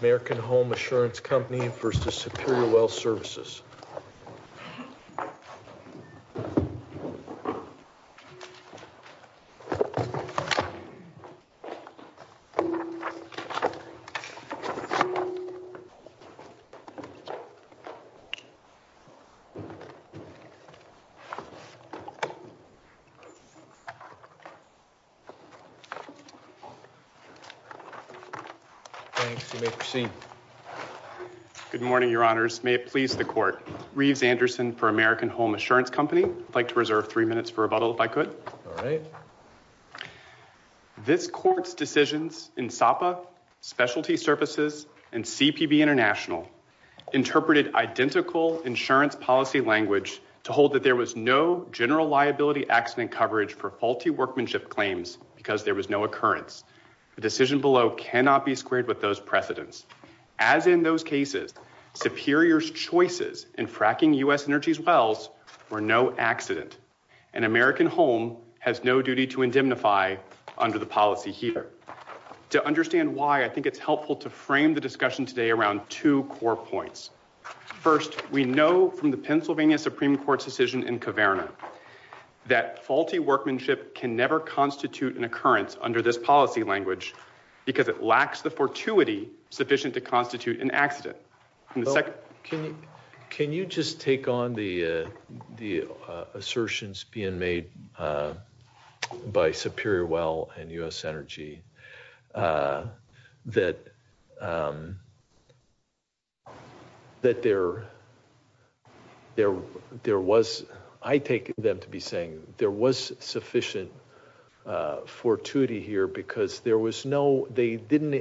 American Home Assurance Company v. Superior Well Services Good morning, your honors. May it please the court. Reeves Anderson for American Home Assurance Company. I'd like to reserve three minutes for rebuttal if I could. All right. This court's decisions in Sapa, Specialty Services, and CPB International interpreted identical insurance policy language to hold that there was no general liability accident coverage for faulty workmanship claims because there was no occurrence. The decision below cannot be squared with those precedents. As in those cases, Superior's choices in fracking U.S. Energy's wells were no accident, and American Home has no duty to indemnify under the policy here. To understand why, I think it's helpful to frame the discussion today around two core points. First, we know from the Pennsylvania Supreme Court's decision in Kaverna that faulty workmanship can never to constitute an accident. Can you just take on the assertions being made by Superior Well and U.S. Energy that there was, I take them to be saying, there was sufficient fortuity here because there was no, they didn't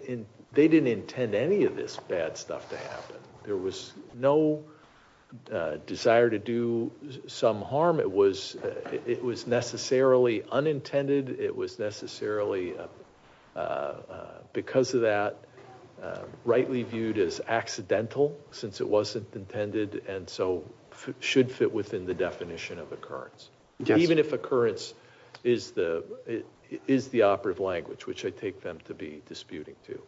intend any of this bad stuff to happen. There was no desire to do some harm. It was necessarily unintended. It was necessarily, because of that, rightly viewed as accidental since it wasn't intended and so should fit within the language which I take them to be disputing too.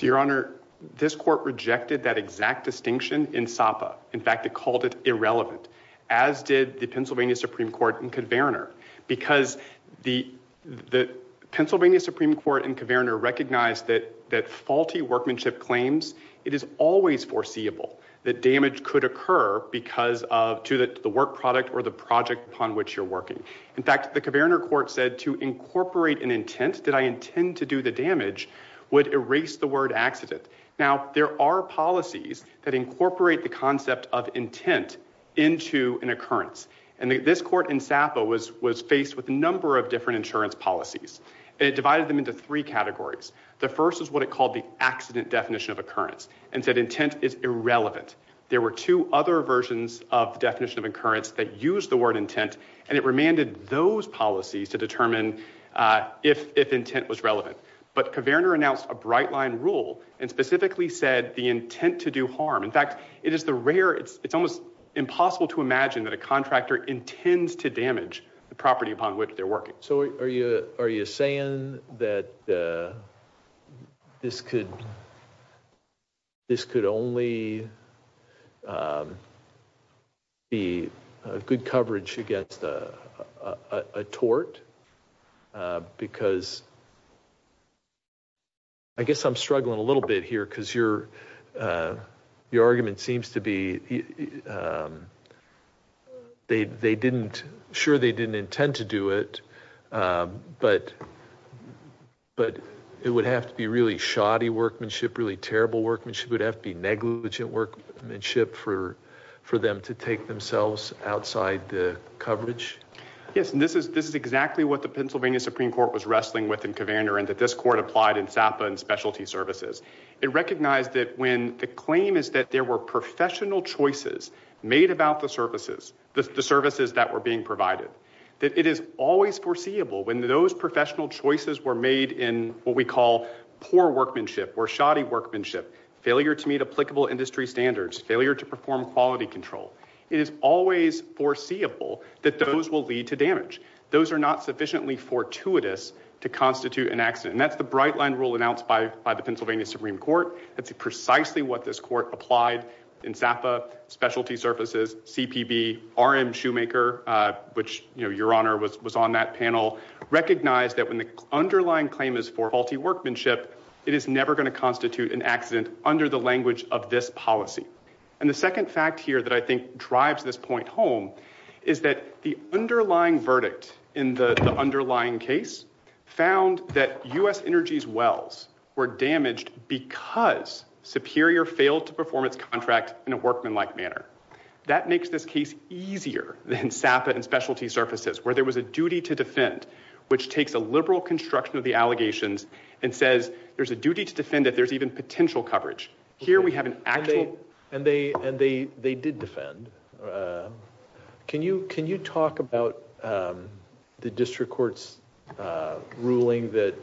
Your Honor, this court rejected that exact distinction in Sapa. In fact, it called it irrelevant, as did the Pennsylvania Supreme Court in Kaverna because the Pennsylvania Supreme Court in Kaverna recognized that faulty workmanship claims, it is always foreseeable that damage could occur because of the work product or the project upon which you're working. In fact, the Kaverna court said to incorporate an intent, did I intend to do the damage, would erase the word accident. Now, there are policies that incorporate the concept of intent into an occurrence and this court in Sapa was faced with a number of different insurance policies and it divided them into three categories. The first is what it called the accident definition of occurrence and said intent is irrelevant. There were two other versions of the definition of occurrence that used the word intent and it remanded those policies to determine if intent was relevant. But Kaverna announced a bright line rule and specifically said the intent to do harm. In fact, it is the rare, it's almost impossible to imagine that a contractor intends to damage the property upon which they're working. So are you saying that this could only be good coverage against a tort? Because I guess I'm struggling a little bit here because your argument seems to be they didn't, sure they didn't intend to do it, but it would have to be really shoddy workmanship, really terrible workmanship, would have to be negligent workmanship for them to take themselves outside the coverage? Yes, and this is exactly what the Pennsylvania Supreme Court was wrestling with in Kaverna and that this court applied in Sapa and specialty services. It recognized that when the claim is that there were professional choices made about the services, the services that were being provided, that it is always foreseeable when those professional choices were made in what we call poor workmanship or shoddy workmanship, failure to meet applicable industry standards, failure to perform quality control. It is always foreseeable that those will lead to damage. Those are not sufficiently fortuitous to constitute an accident. And that's the bright line rule announced by the Pennsylvania Supreme Court. That's precisely what this court applied in Sapa, specialty services, CPB, R.M. Shoemaker, which your honor was on that panel, recognized that when the underlying claim is for faulty workmanship, it is never going to constitute an accident under the language of this policy. And the second fact here that I think drives this point home is that the underlying verdict in the underlying case found that U.S. Energy's contracts were damaged because Superior failed to perform its contract in a workmanlike manner. That makes this case easier than Sapa and specialty services where there was a duty to defend, which takes a liberal construction of the allegations and says there's a duty to defend that there's even potential coverage. Here we have an actual. And they and they they did defend. Can you can you talk about the district court's ruling that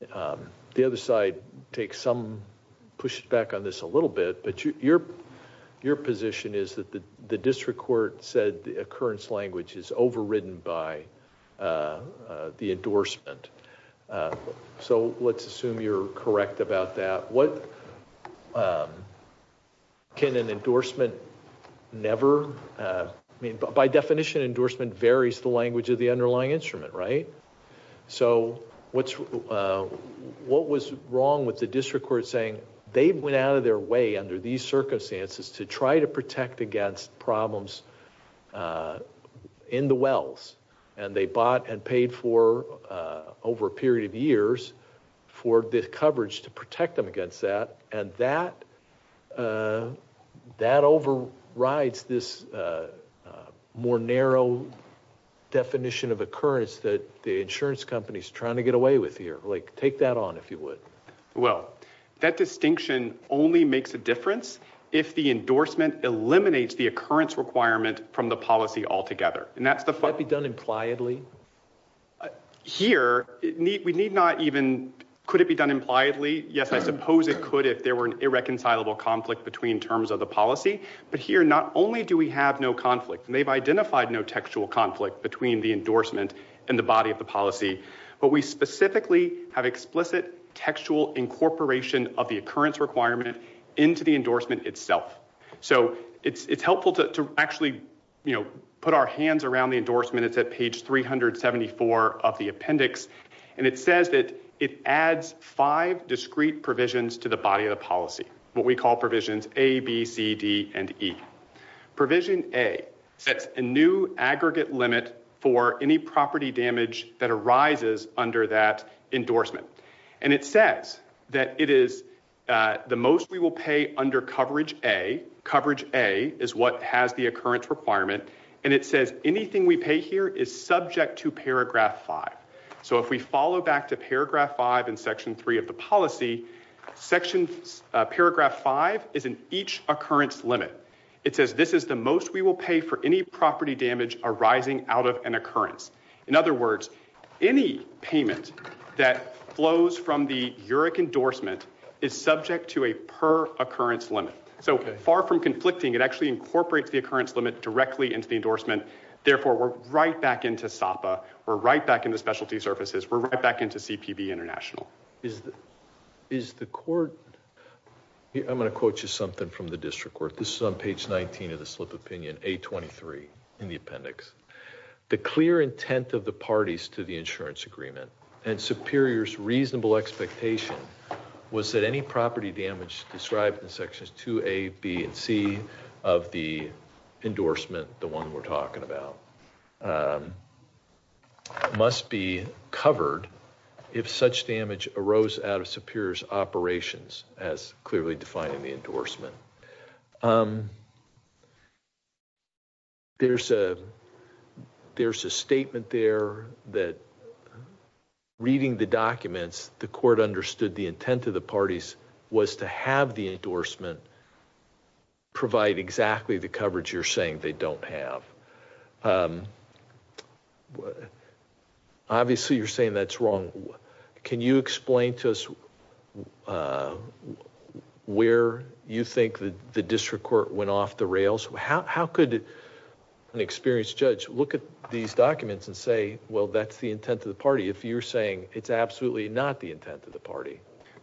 the other side takes some pushback on this a little bit. But your your position is that the district court said the occurrence language is overridden by the endorsement. So let's assume you're correct about that. What can an endorsement never mean? By definition, endorsement varies the language of the underlying instrument, right? So what's what was wrong with the district court saying they went out of their way under these circumstances to try to protect against problems in the wells and they bought and paid for over a period of years for this coverage to protect them against that. And that that overrides this more narrow definition of occurrence that the insurance company is trying to get away with here. Like take that on if you would. Well, that distinction only makes a difference if the endorsement eliminates the occurrence requirement from the policy altogether. And that's the fact be done impliedly here. We need not even could it be done impliedly? Yes, I suppose it could if there were an irreconcilable conflict between terms of the policy. But here not only do we have no conflict, they've identified no textual conflict between the endorsement and the body of the policy. But we specifically have explicit textual incorporation of the occurrence requirement into the endorsement itself. So it's helpful to actually put our hands around the endorsement. It's at page 374 of the appendix. And it says that it adds five discrete provisions to the body of the policy. What we call provisions A, B, C, D and E. Provision A sets a new aggregate limit for any property damage that arises under that endorsement. And it says that it is the most we will pay under coverage A. Coverage A is what has the occurrence requirement. And it says anything we pay here is subject to paragraph 5. So if we follow back to paragraph 5 in section 3 of the policy, paragraph 5 is in each occurrence limit. It says this is the most we will pay for any property damage arising out of an occurrence. In other words, any payment that flows from the UREC endorsement is subject to a per occurrence limit. So far from conflicting, it actually incorporates the occurrence limit directly into the endorsement. Therefore, we're right back into SAPA. We're right back in the specialty services. We're right back into CPB International. Is the court, I'm going to quote you something from the district court. This is on page 19 of the slip of opinion, A23 in the appendix. The clear intent of the parties to the insurance agreement and superiors reasonable expectation was that any property damage described in sections 2A, B, and C of the endorsement, the one we're talking about, must be covered if such damage arose out of superiors operations as clearly defined in the endorsement. There's a statement there that reading the documents, the court understood the intent of the parties was to have the endorsement provide exactly the coverage you're saying they don't have. Obviously, you're saying that's wrong. Can you explain to us where you think that the district court went off the rails? How could an experienced judge look at these documents and say, well, that's the intent of the party if you're saying it's absolutely not the intent of the party?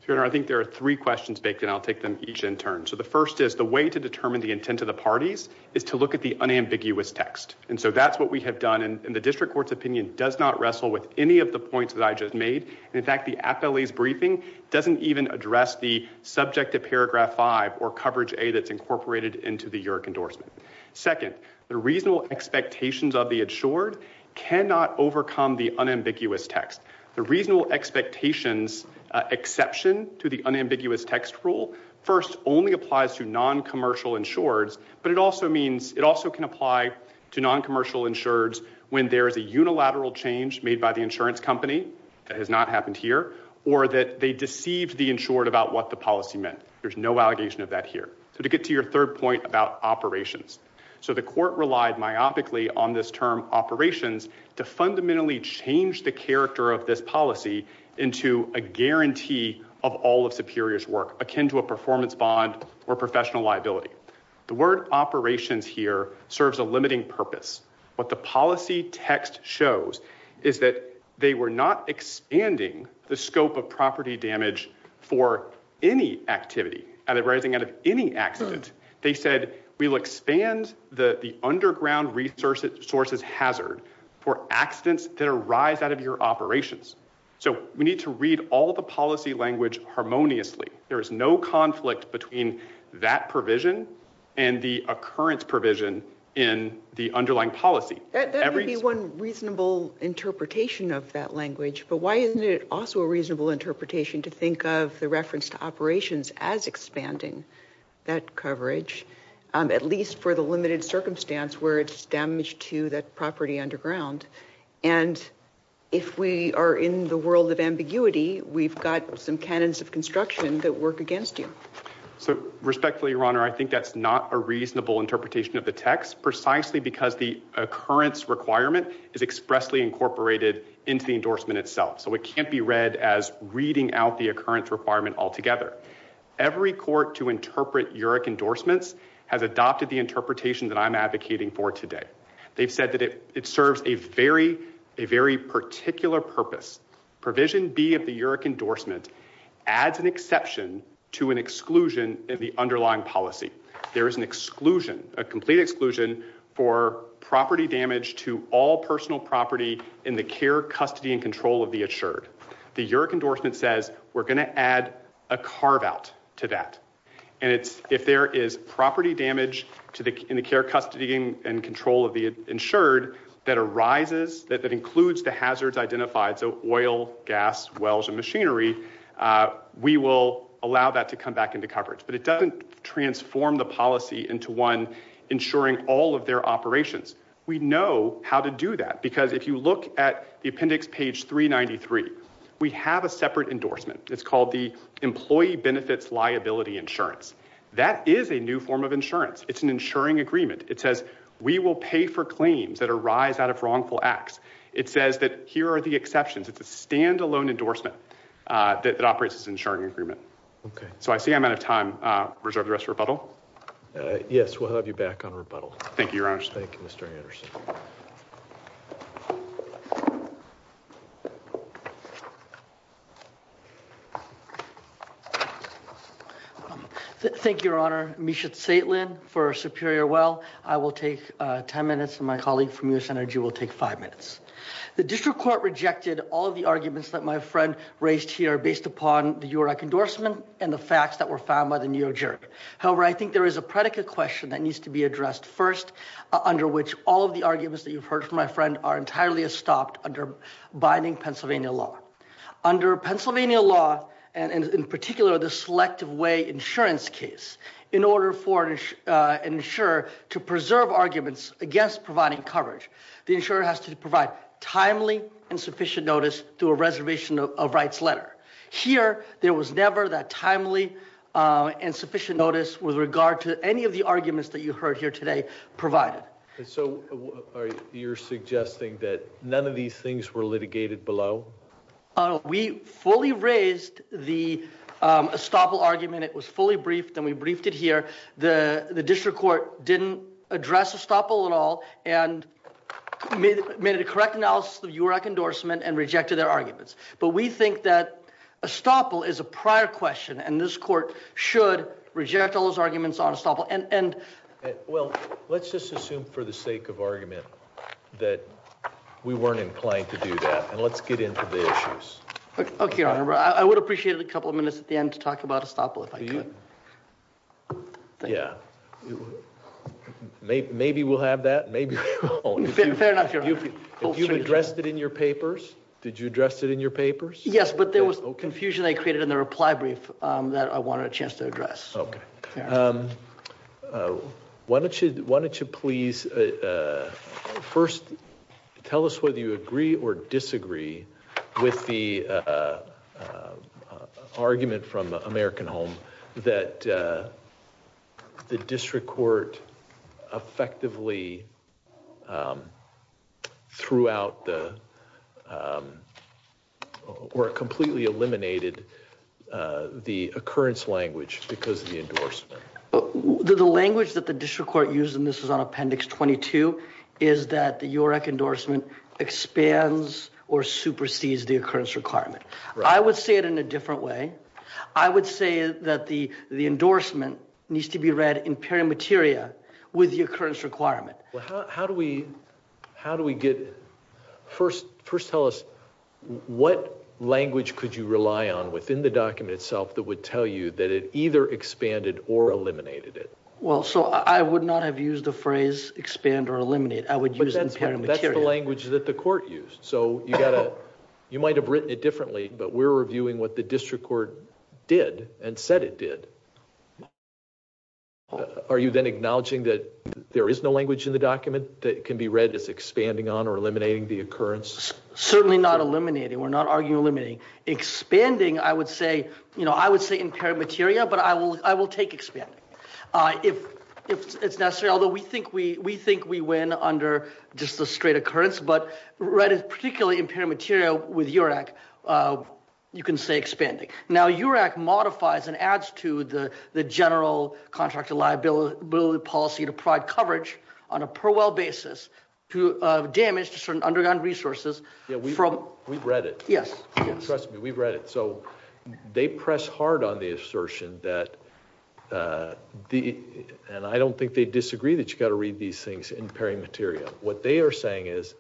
Your Honor, I think there are three questions baked in. I'll take them each in turn. So the first is the way to determine the intent of the parties is to look at the unambiguous text. And so that's what we have done. And the district court's opinion does not wrestle with any of the points that I just made. In fact, the appellee's briefing doesn't even address the subject of paragraph five or coverage A that's incorporated into the EURIC endorsement. Second, the reasonable expectations of the insured cannot overcome the unambiguous text. The reasonable expectations exception to the unambiguous text rule first only applies to non-commercial insureds, but it also can apply to non-commercial insureds when there is a unilateral change made by the insurance company that has not happened here or that they deceived the insured about what the policy meant. There's no allegation of that here. So to get to your third point about operations. So the court relied myopically on this term operations to fundamentally change the character of this policy into a guarantee of all of superiors work akin to a performance bond or professional liability. The word operations here serves a limiting purpose. What the policy text shows is that they were not expanding the scope of property damage for any activity arising out of any accident. They said we'll expand the underground resources hazard for accidents that arise out of your operations. So we need to read all the policy language harmoniously. There is no conflict between that provision and the occurrence provision in the underlying policy. That would be one interpretation of that language, but why isn't it also a reasonable interpretation to think of the reference to operations as expanding that coverage, at least for the limited circumstance where it's damaged to that property underground. And if we are in the world of ambiguity, we've got some cannons of construction that work against you. So respectfully, your honor, I think that's not a reasonable interpretation of the text precisely because the occurrence requirement is expressly incorporated into the endorsement itself. So it can't be read as reading out the occurrence requirement altogether. Every court to interpret UREC endorsements has adopted the interpretation that I'm advocating for today. They've said that it serves a very particular purpose. Provision B of the UREC endorsement adds an exception to an exclusion in the underlying policy. There is an exclusion, a complete exclusion, for property damage to all personal property in the care, custody, and control of the insured. The UREC endorsement says we're going to add a carve out to that. And if there is property damage in the care, custody, and control of the insured that arises, that includes the hazards identified, so oil, gas, wells, and machinery, we will allow that to come back into coverage. But it doesn't transform the policy into one insuring all of their operations. We know how to do that because if you look at the appendix page 393, we have a separate endorsement. It's called the employee benefits liability insurance. That is a new form of insurance. It's an insuring agreement. It says we will pay for claims that arise out of wrongful acts. It says that here are the exceptions. It's a standalone endorsement that operates as an insuring agreement. So I see I'm out of time. Reserve the rest for rebuttal. Yes, we'll have you back on rebuttal. Thank you, Your Honor. Thank you, Your Honor. Misha Tsaitlin for Superior Well. I will take 10 minutes and my colleague from U.S. Energy will take five minutes. The district court rejected all of the arguments that my friend raised here based upon the UREC endorsement and the facts that were found by the New York jury. However, I think there is a predicate question that needs to be addressed first, under which all of the arguments that you've heard from my friend are entirely estopped under binding Pennsylvania law. Under Pennsylvania law, and in particular the selective way insurance case, in order for an insurer to preserve arguments against providing coverage, the insurer has to provide timely and sufficient notice to a reservation of rights letter. Here, there was never that timely and sufficient notice with regard to any of the arguments that you heard here today provided. So you're suggesting that none of these things were litigated below? We fully raised the estoppel argument. It was fully briefed and we briefed it here. The district court didn't address estoppel at all and made a correct analysis of UREC endorsement and rejected their arguments. But we think that estoppel is a prior question and this court should reject all those arguments on estoppel. Well, let's just assume for the sake of argument that we weren't inclined to do that and let's get into the issues. Okay, your honor. I would appreciate a couple of minutes at the end to talk about estoppel if I could. Yeah, maybe we'll have that. Maybe we won't. If you've addressed it in your papers. Did you address it in your papers? Yes, but there was confusion I created in the reply brief that I wanted a chance to address. Okay. Why don't you, why don't you please first tell us whether you agree or disagree with the argument from American Home that the district court effectively threw out or completely eliminated the occurrence language because of the endorsement. The language that the district court used, and this is on appendix 22, is that the UREC endorsement expands or supersedes the occurrence requirement. I would say it in a different way. I would say that the endorsement needs to be read in peri materia with the occurrence requirement. Well, how do we, how do we get, first tell us what language could you rely on within the document itself that would tell you that it either expanded or eliminated it? Well, so I would not have used the phrase expand or eliminate. I would use it in peri materia. That's the language that the court used. So you got to, you might have written it differently, but we're reviewing what the district court did and said it did. Are you then acknowledging that there is no language in the document that can be read as expanding on or eliminating the occurrence? Certainly not in peri materia, but I will take expanding if it's necessary. Although we think we win under just the straight occurrence, but particularly in peri materia with UREC, you can say expanding. Now UREC modifies and adds to the general contractual liability policy to provide coverage on a per well basis to damage to certain underground resources. Yeah, we've read it. Trust me, we've read it. So they press hard on the assertion that, and I don't think they disagree that you got to read these things in peri materia. What they are saying is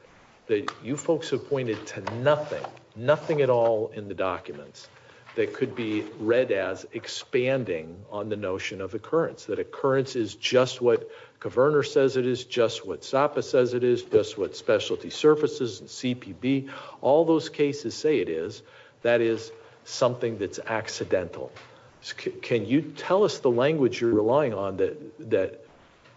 that you folks have pointed to nothing, nothing at all in the documents that could be read as expanding on the notion of occurrence. That occurrence is just what Kaverner says it is, just what Sapa says it is, just what specialty surfaces and CPB, all those cases say it is, that is something that's accidental. Can you tell us the language you're relying on that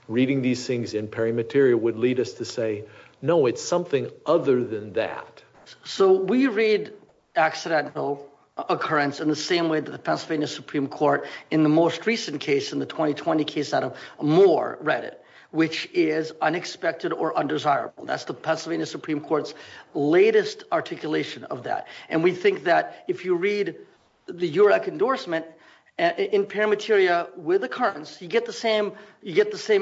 reading these things in peri materia would lead us to say, no, it's something other than that. So we read accidental occurrence in the same way that the Pennsylvania Supreme Court in the most recent case in the 2020 case out of Moore read it, which is unexpected or undesirable. That's the Pennsylvania Supreme Court's latest articulation of that. And we think that if you read the UREC endorsement in peri materia with occurrence, you get the same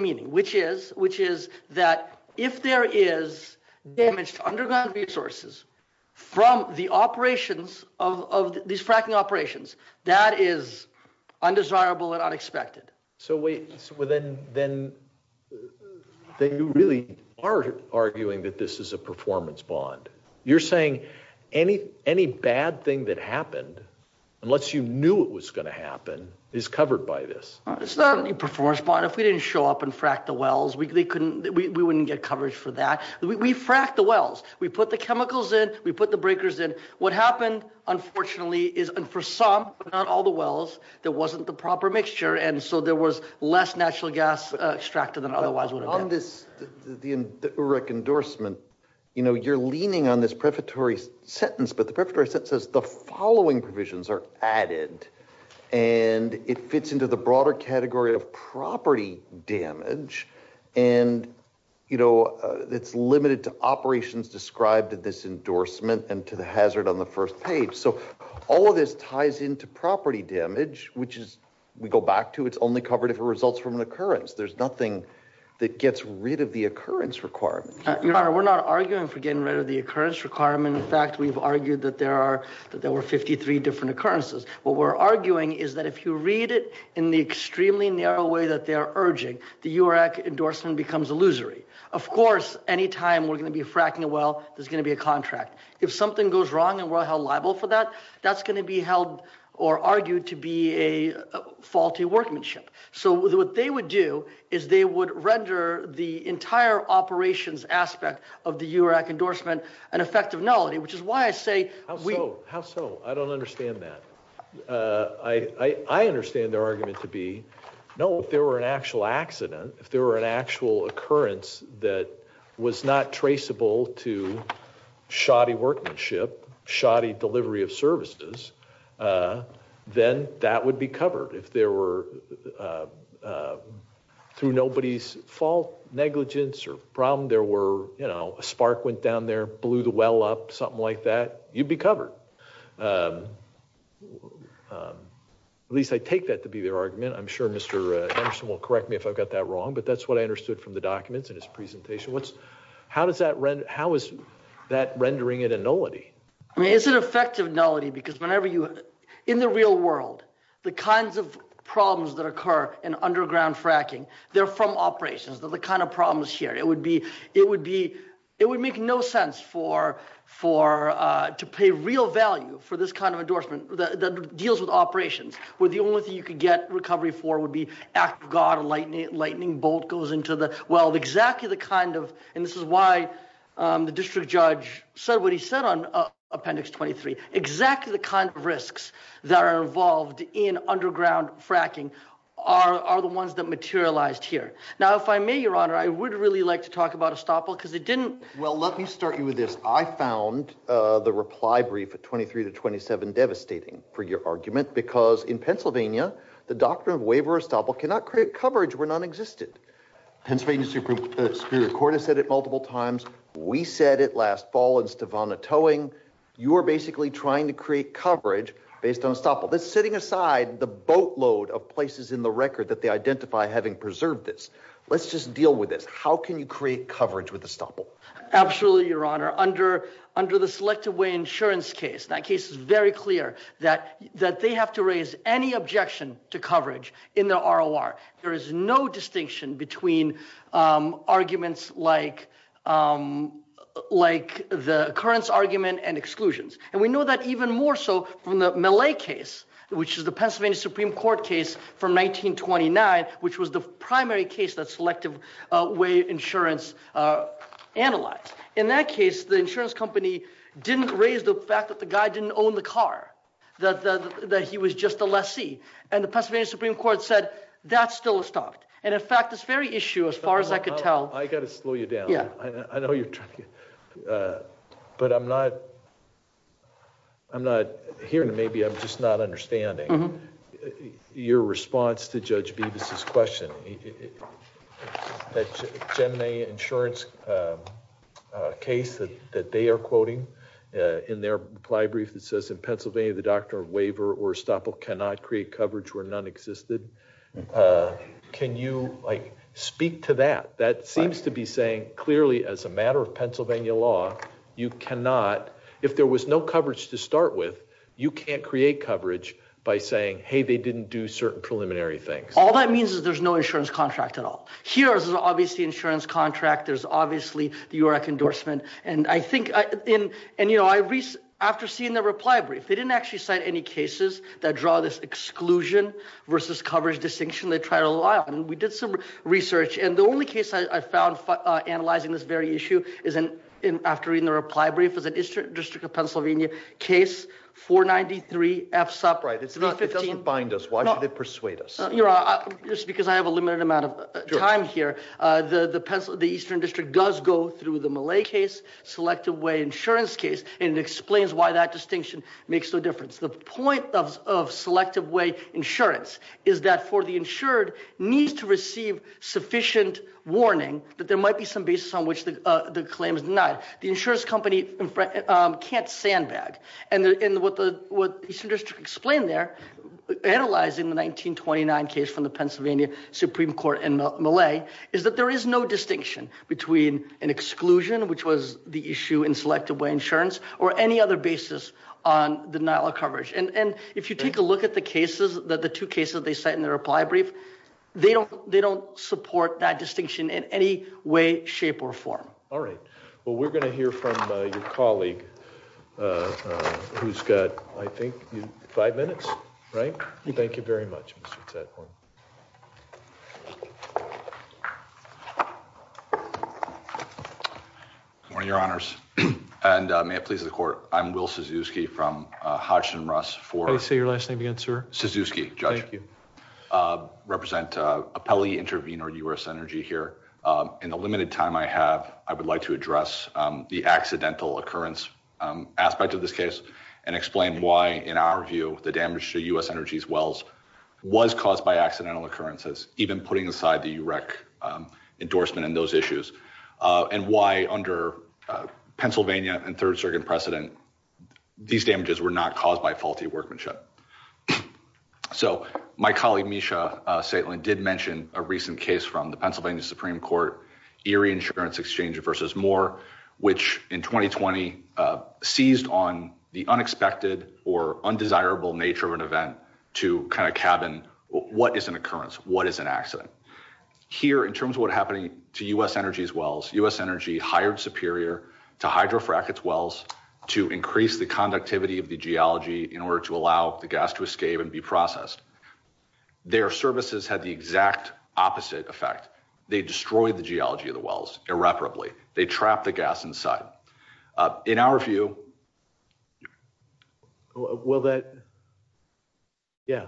meaning, which is that if there is damage to underground resources from the operations of these fracking operations, that is undesirable and unexpected. So wait, so then, then, then you really are arguing that this is a performance bond. You're saying any, any bad thing that happened, unless you knew it was going to happen, is covered by this. It's not a performance bond. If we didn't show up and frack the wells, we couldn't, we wouldn't get coverage for that. We frack the wells. We put the chemicals in, we put the breakers in. What happened, unfortunately, is for some, not all the wells, there wasn't the proper mixture. And so there was less natural gas extracted than otherwise would have been. On this, the UREC endorsement, you know, you're leaning on this prefatory sentence, but the prefatory sentence says the following provisions are added and it fits into the broader category of property damage. And, you know, it's limited to operations described in this endorsement and to the hazard on the first page. So all of this ties into property damage, which is, we go back to, it's only covered if it results from an occurrence. There's nothing that gets rid of the occurrence requirement. Your Honor, we're not arguing for getting rid of the occurrence requirement. In fact, we've argued that there are, that there were 53 different occurrences. What we're arguing is that if you read it in the extremely narrow way that they're urging, the UREC endorsement becomes illusory. Of course, any time we're going to be fracking a well, there's going to be a contract. If something goes wrong and we're held liable for that, that's going to be held or argued to be a faulty workmanship. So what they would do is they would render the entire operations aspect of the UREC endorsement an effective nullity, which is why I say- How so? How so? I don't understand that. I understand their argument to be, no, if there were an actual accident, if there were an actual occurrence that was not traceable to shoddy workmanship, shoddy delivery of services, then that would be covered. If there were, through nobody's fault, negligence, or problem, there were, you know, a spark went down there, blew the well up, something like that, you'd be covered. At least I take that to be their argument. I'm sure Mr. Anderson will correct me if I've got that wrong, but that's what I understood from the documents in his presentation. How is that rendering it a nullity? I mean, it's an effective nullity because in the real world, the kinds of problems that occur in underground fracking, they're from operations. They're the kind of problems here. It would make no sense to pay real value for this kind of endorsement that deals with operations, where the only thing you could get recovery for would be, act of God, a lightning bolt goes into the well. Exactly the kind of, and this is why the district judge said what he said on appendix 23, exactly the kind of risks that are involved in underground fracking are the ones that materialized here. Now, if I may, your honor, I would really like to talk about estoppel because it didn't... Well, let me start you with this. I found the reply brief at 23 to 27 devastating for your argument because in Pennsylvania, the doctrine of waiver of estoppel cannot create coverage when nonexistent. Pennsylvania Superior Court has said it multiple times. We said it last fall in Stevonna Towing. You are basically trying to create coverage based on estoppel. That's sitting aside the boatload of places in the record that they identify having preserved this. Let's just deal with this. How can you create coverage with estoppel? Absolutely, your honor. Under the Selective Way Insurance case, that case is very clear that they have to raise any objection to coverage in the ROR. There is no distinction between arguments like the occurrence argument and exclusions. We know that even more so from the Millet case, which is the Pennsylvania Supreme Court case from 1929, which was the primary case that Selective Way Insurance analyzed. In that case, the insurance company didn't raise the fact that the guy didn't own the car, that he was just a lessee. The Pennsylvania Supreme Court said, that's still estoppel. In fact, this very issue, as far as I could tell... I got to slow you down. I know you're trying to... But I'm not hearing, maybe I'm just not hearing. There's an insurance case that they are quoting in their reply brief that says, in Pennsylvania, the doctrine of waiver or estoppel cannot create coverage where none existed. Can you speak to that? That seems to be saying, clearly, as a matter of Pennsylvania law, you cannot... If there was no coverage to start with, you can't create coverage by saying, hey, they didn't do certain preliminary things. All that means is there's no insurance contract at all. Here, there's obviously insurance contract, there's obviously the URAC endorsement. After seeing the reply brief, they didn't actually cite any cases that draw this exclusion versus coverage distinction. They tried a lot, and we did some research. The only case I found analyzing this very issue, after reading the reply brief, was an Eastern District of Pennsylvania case, 493 FSUP. Right, it doesn't bind us. Why should it persuade us? Just because I have a limited amount of time here, the Eastern District does go through the Malay case, Selective Way Insurance case, and it explains why that distinction makes no difference. The point of Selective Way Insurance is that for the insured, needs to receive sufficient warning that there might be some basis on which the claim is denied. The insurance company can't sandbag, and what the Eastern District explained there, analyzing the 1929 case from the Pennsylvania Supreme Court in Malay, is that there is no distinction between an exclusion, which was the issue in Selective Way Insurance, or any other basis on denial of coverage. If you take a look at the two cases they cite in their reply brief, they don't support that distinction in any way, shape, or form. All right. Well, we're going to hear from your colleague, who's got, I think, five minutes, right? Thank you very much, Mr. Tadhorn. Good morning, Your Honors, and may it please the Court, I'm Will Sazewski from Hodgson-Russ for... How do you say your last name again, sir? Sazewski, Judge. Thank you. Represent Appelli Intervenor U.S. Energy here. In the limited time I have, I would like to address the accidental occurrence aspect of this case, and explain why, in our view, the damage to U.S. Energy's wells was caused by accidental occurrences, even putting aside the UREC endorsement and those issues, and why, under Pennsylvania and Third Circuit precedent, these damages were not caused by faulty workmanship. So, my colleague, Misha Saitlin, did mention a recent case from the Pennsylvania Supreme Court, ERIE Insurance Exchange v. Moore, which, in 2020, seized on the unexpected or undesirable nature of an event to kind of cabin what is an occurrence, what is an accident. Here, in terms of what happened to U.S. Energy's wells, U.S. Energy hired Superior to hydrofrack its gas to escape and be processed. Their services had the exact opposite effect. They destroyed the geology of the wells irreparably. They trapped the gas inside. In our view... Will that... Yeah.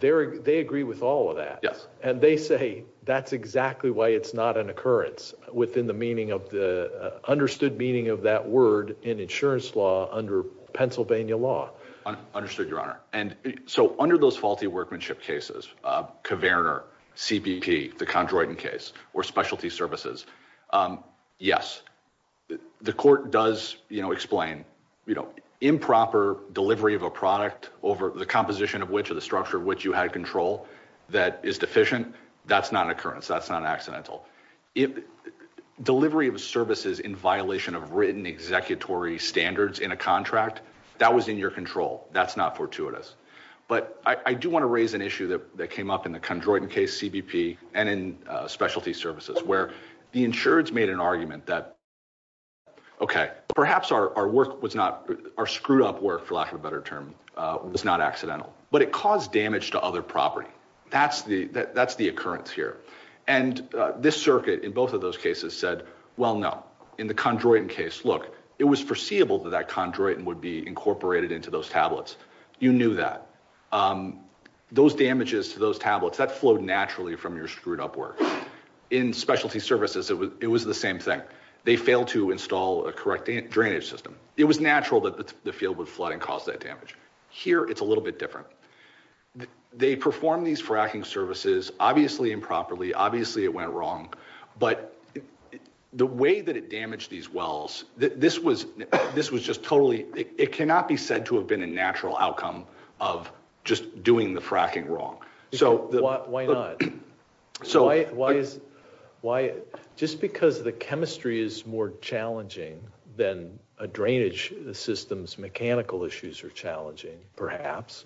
They agree with all of that. Yes. And they say that's exactly why it's not an occurrence, within the meaning of the... understood meaning of that word in insurance law under Pennsylvania law. Understood, Your Honor. And so, under those faulty workmanship cases, Kverner, CPP, the Condroiton case, or specialty services, yes, the court does, you know, explain, you know, improper delivery of a product over the composition of which or the structure of which you had control that is deficient. That's not an occurrence. That's not standards in a contract. That was in your control. That's not fortuitous. But I do want to raise an issue that came up in the Condroiton case, CBP, and in specialty services, where the insurance made an argument that, okay, perhaps our work was not... our screwed up work, for lack of a better term, was not accidental. But it caused damage to other property. That's the occurrence here. And this circuit, in both of those cases, said, well, no. In the Condroiton case, look, it was foreseeable that that Condroiton would be incorporated into those tablets. You knew that. Those damages to those tablets, that flowed naturally from your screwed up work. In specialty services, it was the same thing. They failed to install a correct drainage system. It was natural that the field would flood and cause that damage. Here, it's a little bit different. They performed these fracking services, obviously improperly. Obviously, it went wrong. But the way that it damaged these wells, this was just totally... it cannot be said to have been a natural outcome of just doing the fracking wrong. Why not? Just because the chemistry is more challenging than a drainage system's mechanical issues are challenging, perhaps.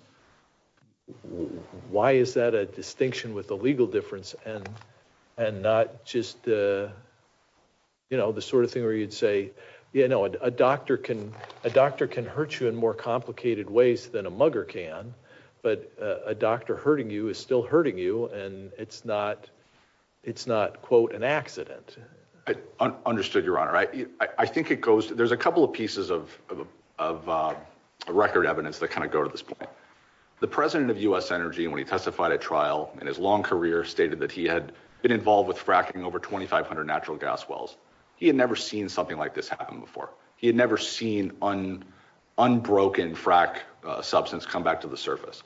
Why is that a distinction with a legal difference and not just the sort of thing where you'd say, yeah, no, a doctor can hurt you in more complicated ways than a mugger can. But a doctor hurting you is still hurting you. And it's not, quote, an accident. I understood, Your Honor. There's a couple of pieces of record evidence that kind of go to this point. The president of US Energy, when he testified at trial in his long career, stated that he had been involved with fracking over 2,500 natural gas wells. He had never seen something like this happen before. He had never seen an unbroken frack substance come back to the surface.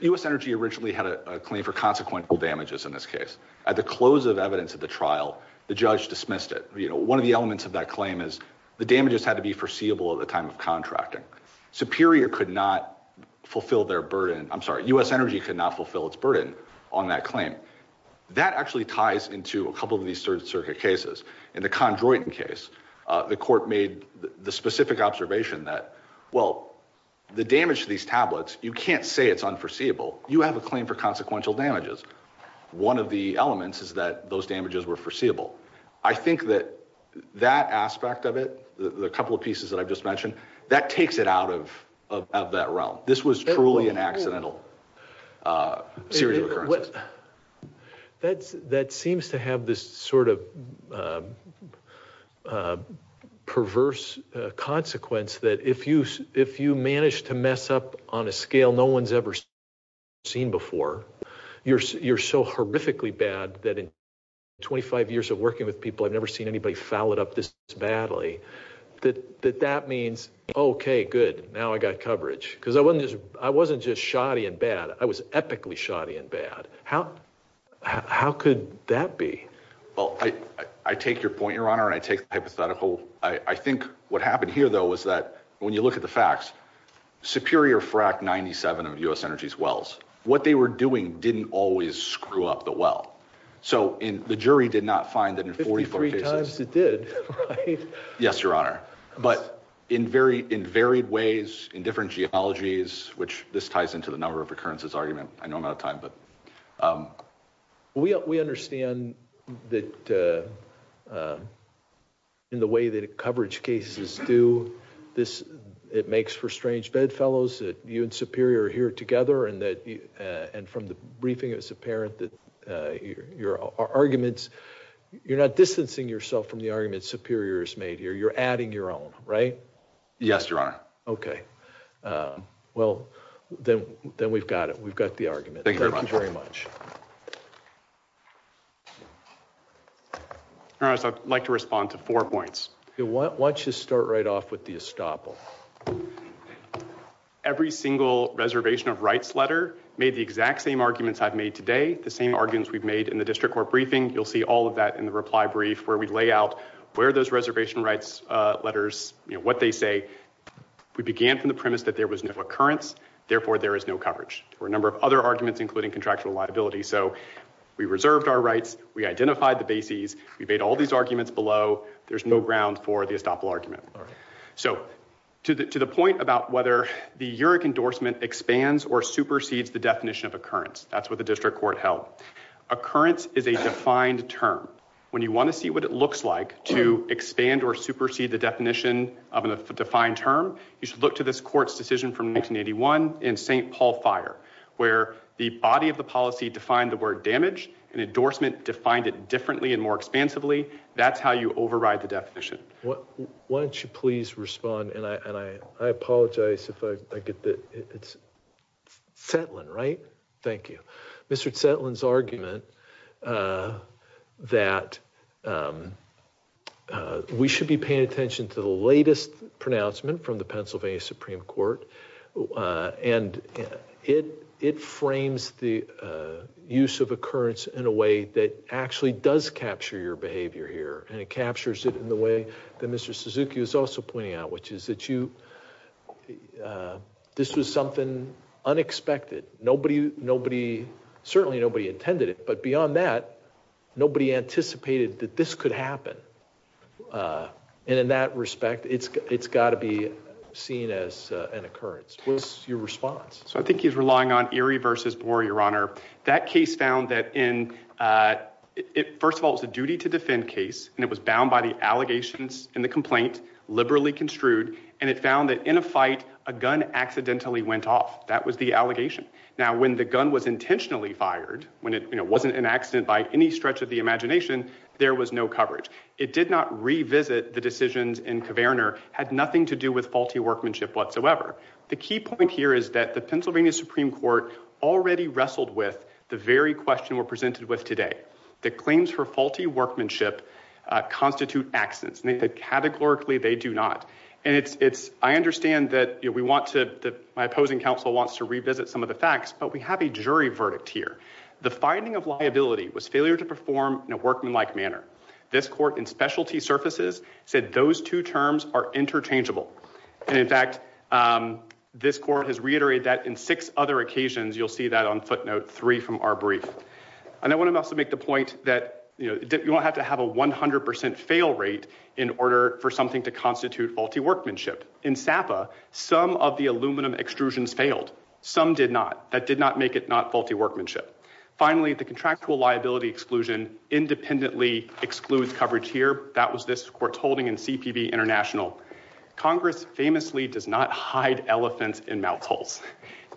US Energy originally had a claim for consequential damages in this case. At the close of evidence at the trial, the judge dismissed it. You know, one of the elements of that claim is the damages had to be foreseeable at the time of contracting. Superior could not fulfill their burden. I'm sorry, US Energy could not fulfill its burden on that claim. That actually ties into a couple of these Third Circuit cases. In the Condroiton case, the court made the specific observation that, well, the damage to these tablets, you can't say it's unforeseeable. You have a claim for consequential damages. One of the elements is that those damages were foreseeable. I think that that aspect of it, the couple of pieces that I've just mentioned, that takes it out of that realm. This was truly an accidental series of occurrences. That seems to have this sort of perverse consequence that if you manage to mess up on a scale no one's ever seen before, you're so horrifically bad that in 25 years of working with people, I've never seen anybody foul it up this badly. That means, okay, good, now I got coverage. Because I wasn't just shoddy and bad, I was epically shoddy and bad. How could that be? Well, I take your point, Your Honor, and I take the hypothetical. I think what happened here, though, is that when you look at the facts, Superior Fract 97 of U.S. Energy's wells, what they were doing didn't always screw up the well. So the jury did not find that in 44 cases. 53 times it did, right? Yes, Your Honor. But in varied ways, in different geologies, which this ties into the number of occurrences argument. I know I'm out of this. It makes for strange bedfellows that you and Superior are here together and from the briefing, it's apparent that your arguments, you're not distancing yourself from the argument Superior has made here. You're adding your own, right? Yes, Your Honor. Okay. Well, then we've got it. We've got the argument. Thank you very much. Your Honor, I'd like to respond to four points. Why don't you start right off with the estoppel? Every single reservation of rights letter made the exact same arguments I've made today, the same arguments we've made in the district court briefing. You'll see all of that in the reply brief where we lay out where those reservation rights letters, what they say. We began from the premise that there was no occurrence. Therefore, there is no coverage. There were a number of other arguments, including contractual liability. So, we reserved our rights. We identified the bases. We made all these arguments below. There's no ground for the estoppel argument. So, to the point about whether the URIC endorsement expands or supersedes the definition of occurrence, that's what the district court held. Occurrence is a defined term. When you want to see what it looks like to expand or supersede the definition of a defined term, you should look to this court's decision from 1981 in St. Paul Fire, where the body of the policy defined the word damage and endorsement defined it differently and more expansively. That's how you override the definition. Why don't you please respond? And I apologize if I get that. It's Setlin, right? Thank you. Mr. Setlin's argument that we should be paying attention to the latest pronouncement from the district court, it frames the use of occurrence in a way that actually does capture your behavior here. And it captures it in the way that Mr. Suzuki is also pointing out, which is that this was something unexpected. Certainly, nobody intended it. But beyond that, nobody anticipated that this could happen. And in that respect, it's got to be seen as an occurrence. What's your response? So I think he's relying on Erie versus Boer, Your Honor. That case found that in, first of all, it's a duty to defend case, and it was bound by the allegations in the complaint, liberally construed. And it found that in a fight, a gun accidentally went off. That was the allegation. Now, when the gun was intentionally fired, when it wasn't an accident by any stretch of the imagination, there was no coverage. It did not revisit the decisions in Kverner, had nothing to do with faulty workmanship whatsoever. The key point here is that the Pennsylvania Supreme Court already wrestled with the very question we're presented with today, that claims for faulty workmanship constitute accidents. And categorically, they do not. And I understand that my opposing counsel wants to revisit some of the facts, but we have a jury verdict here. The finding of liability was failure to perform in a workmanlike manner. This court in specialty surfaces said those two terms are correct. This court has reiterated that in six other occasions, you'll see that on footnote three from our brief. And I want to also make the point that, you know, you don't have to have a 100% fail rate in order for something to constitute faulty workmanship. In SAPA, some of the aluminum extrusions failed. Some did not. That did not make it not faulty workmanship. Finally, the contractual liability exclusion independently excludes coverage here. That was this court's holding in CPB International. Congress famously does not hide elephants in mouth holes.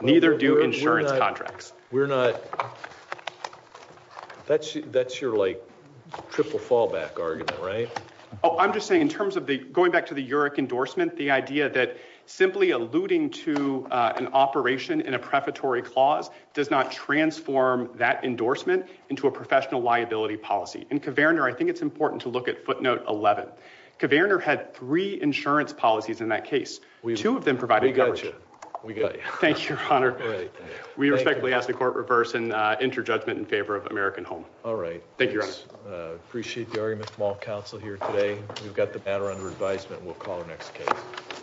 Neither do insurance contracts. We're not. That's that's your like triple fallback argument, right? Oh, I'm just saying in terms of the going back to the UREC endorsement, the idea that simply alluding to an operation in a prefatory clause does not transform that endorsement into a professional liability policy. In Kverner, I think it's important to look at footnote 11. Kverner had three insurance policies in that case. Two of them provided coverage. We got you. We got you. Thank you, Your Honor. We respectfully ask the court reverse and enter judgment in favor of American Home. All right. Thank you. Appreciate the argument from all counsel here today. We've got the matter under advisement. We'll call the next case.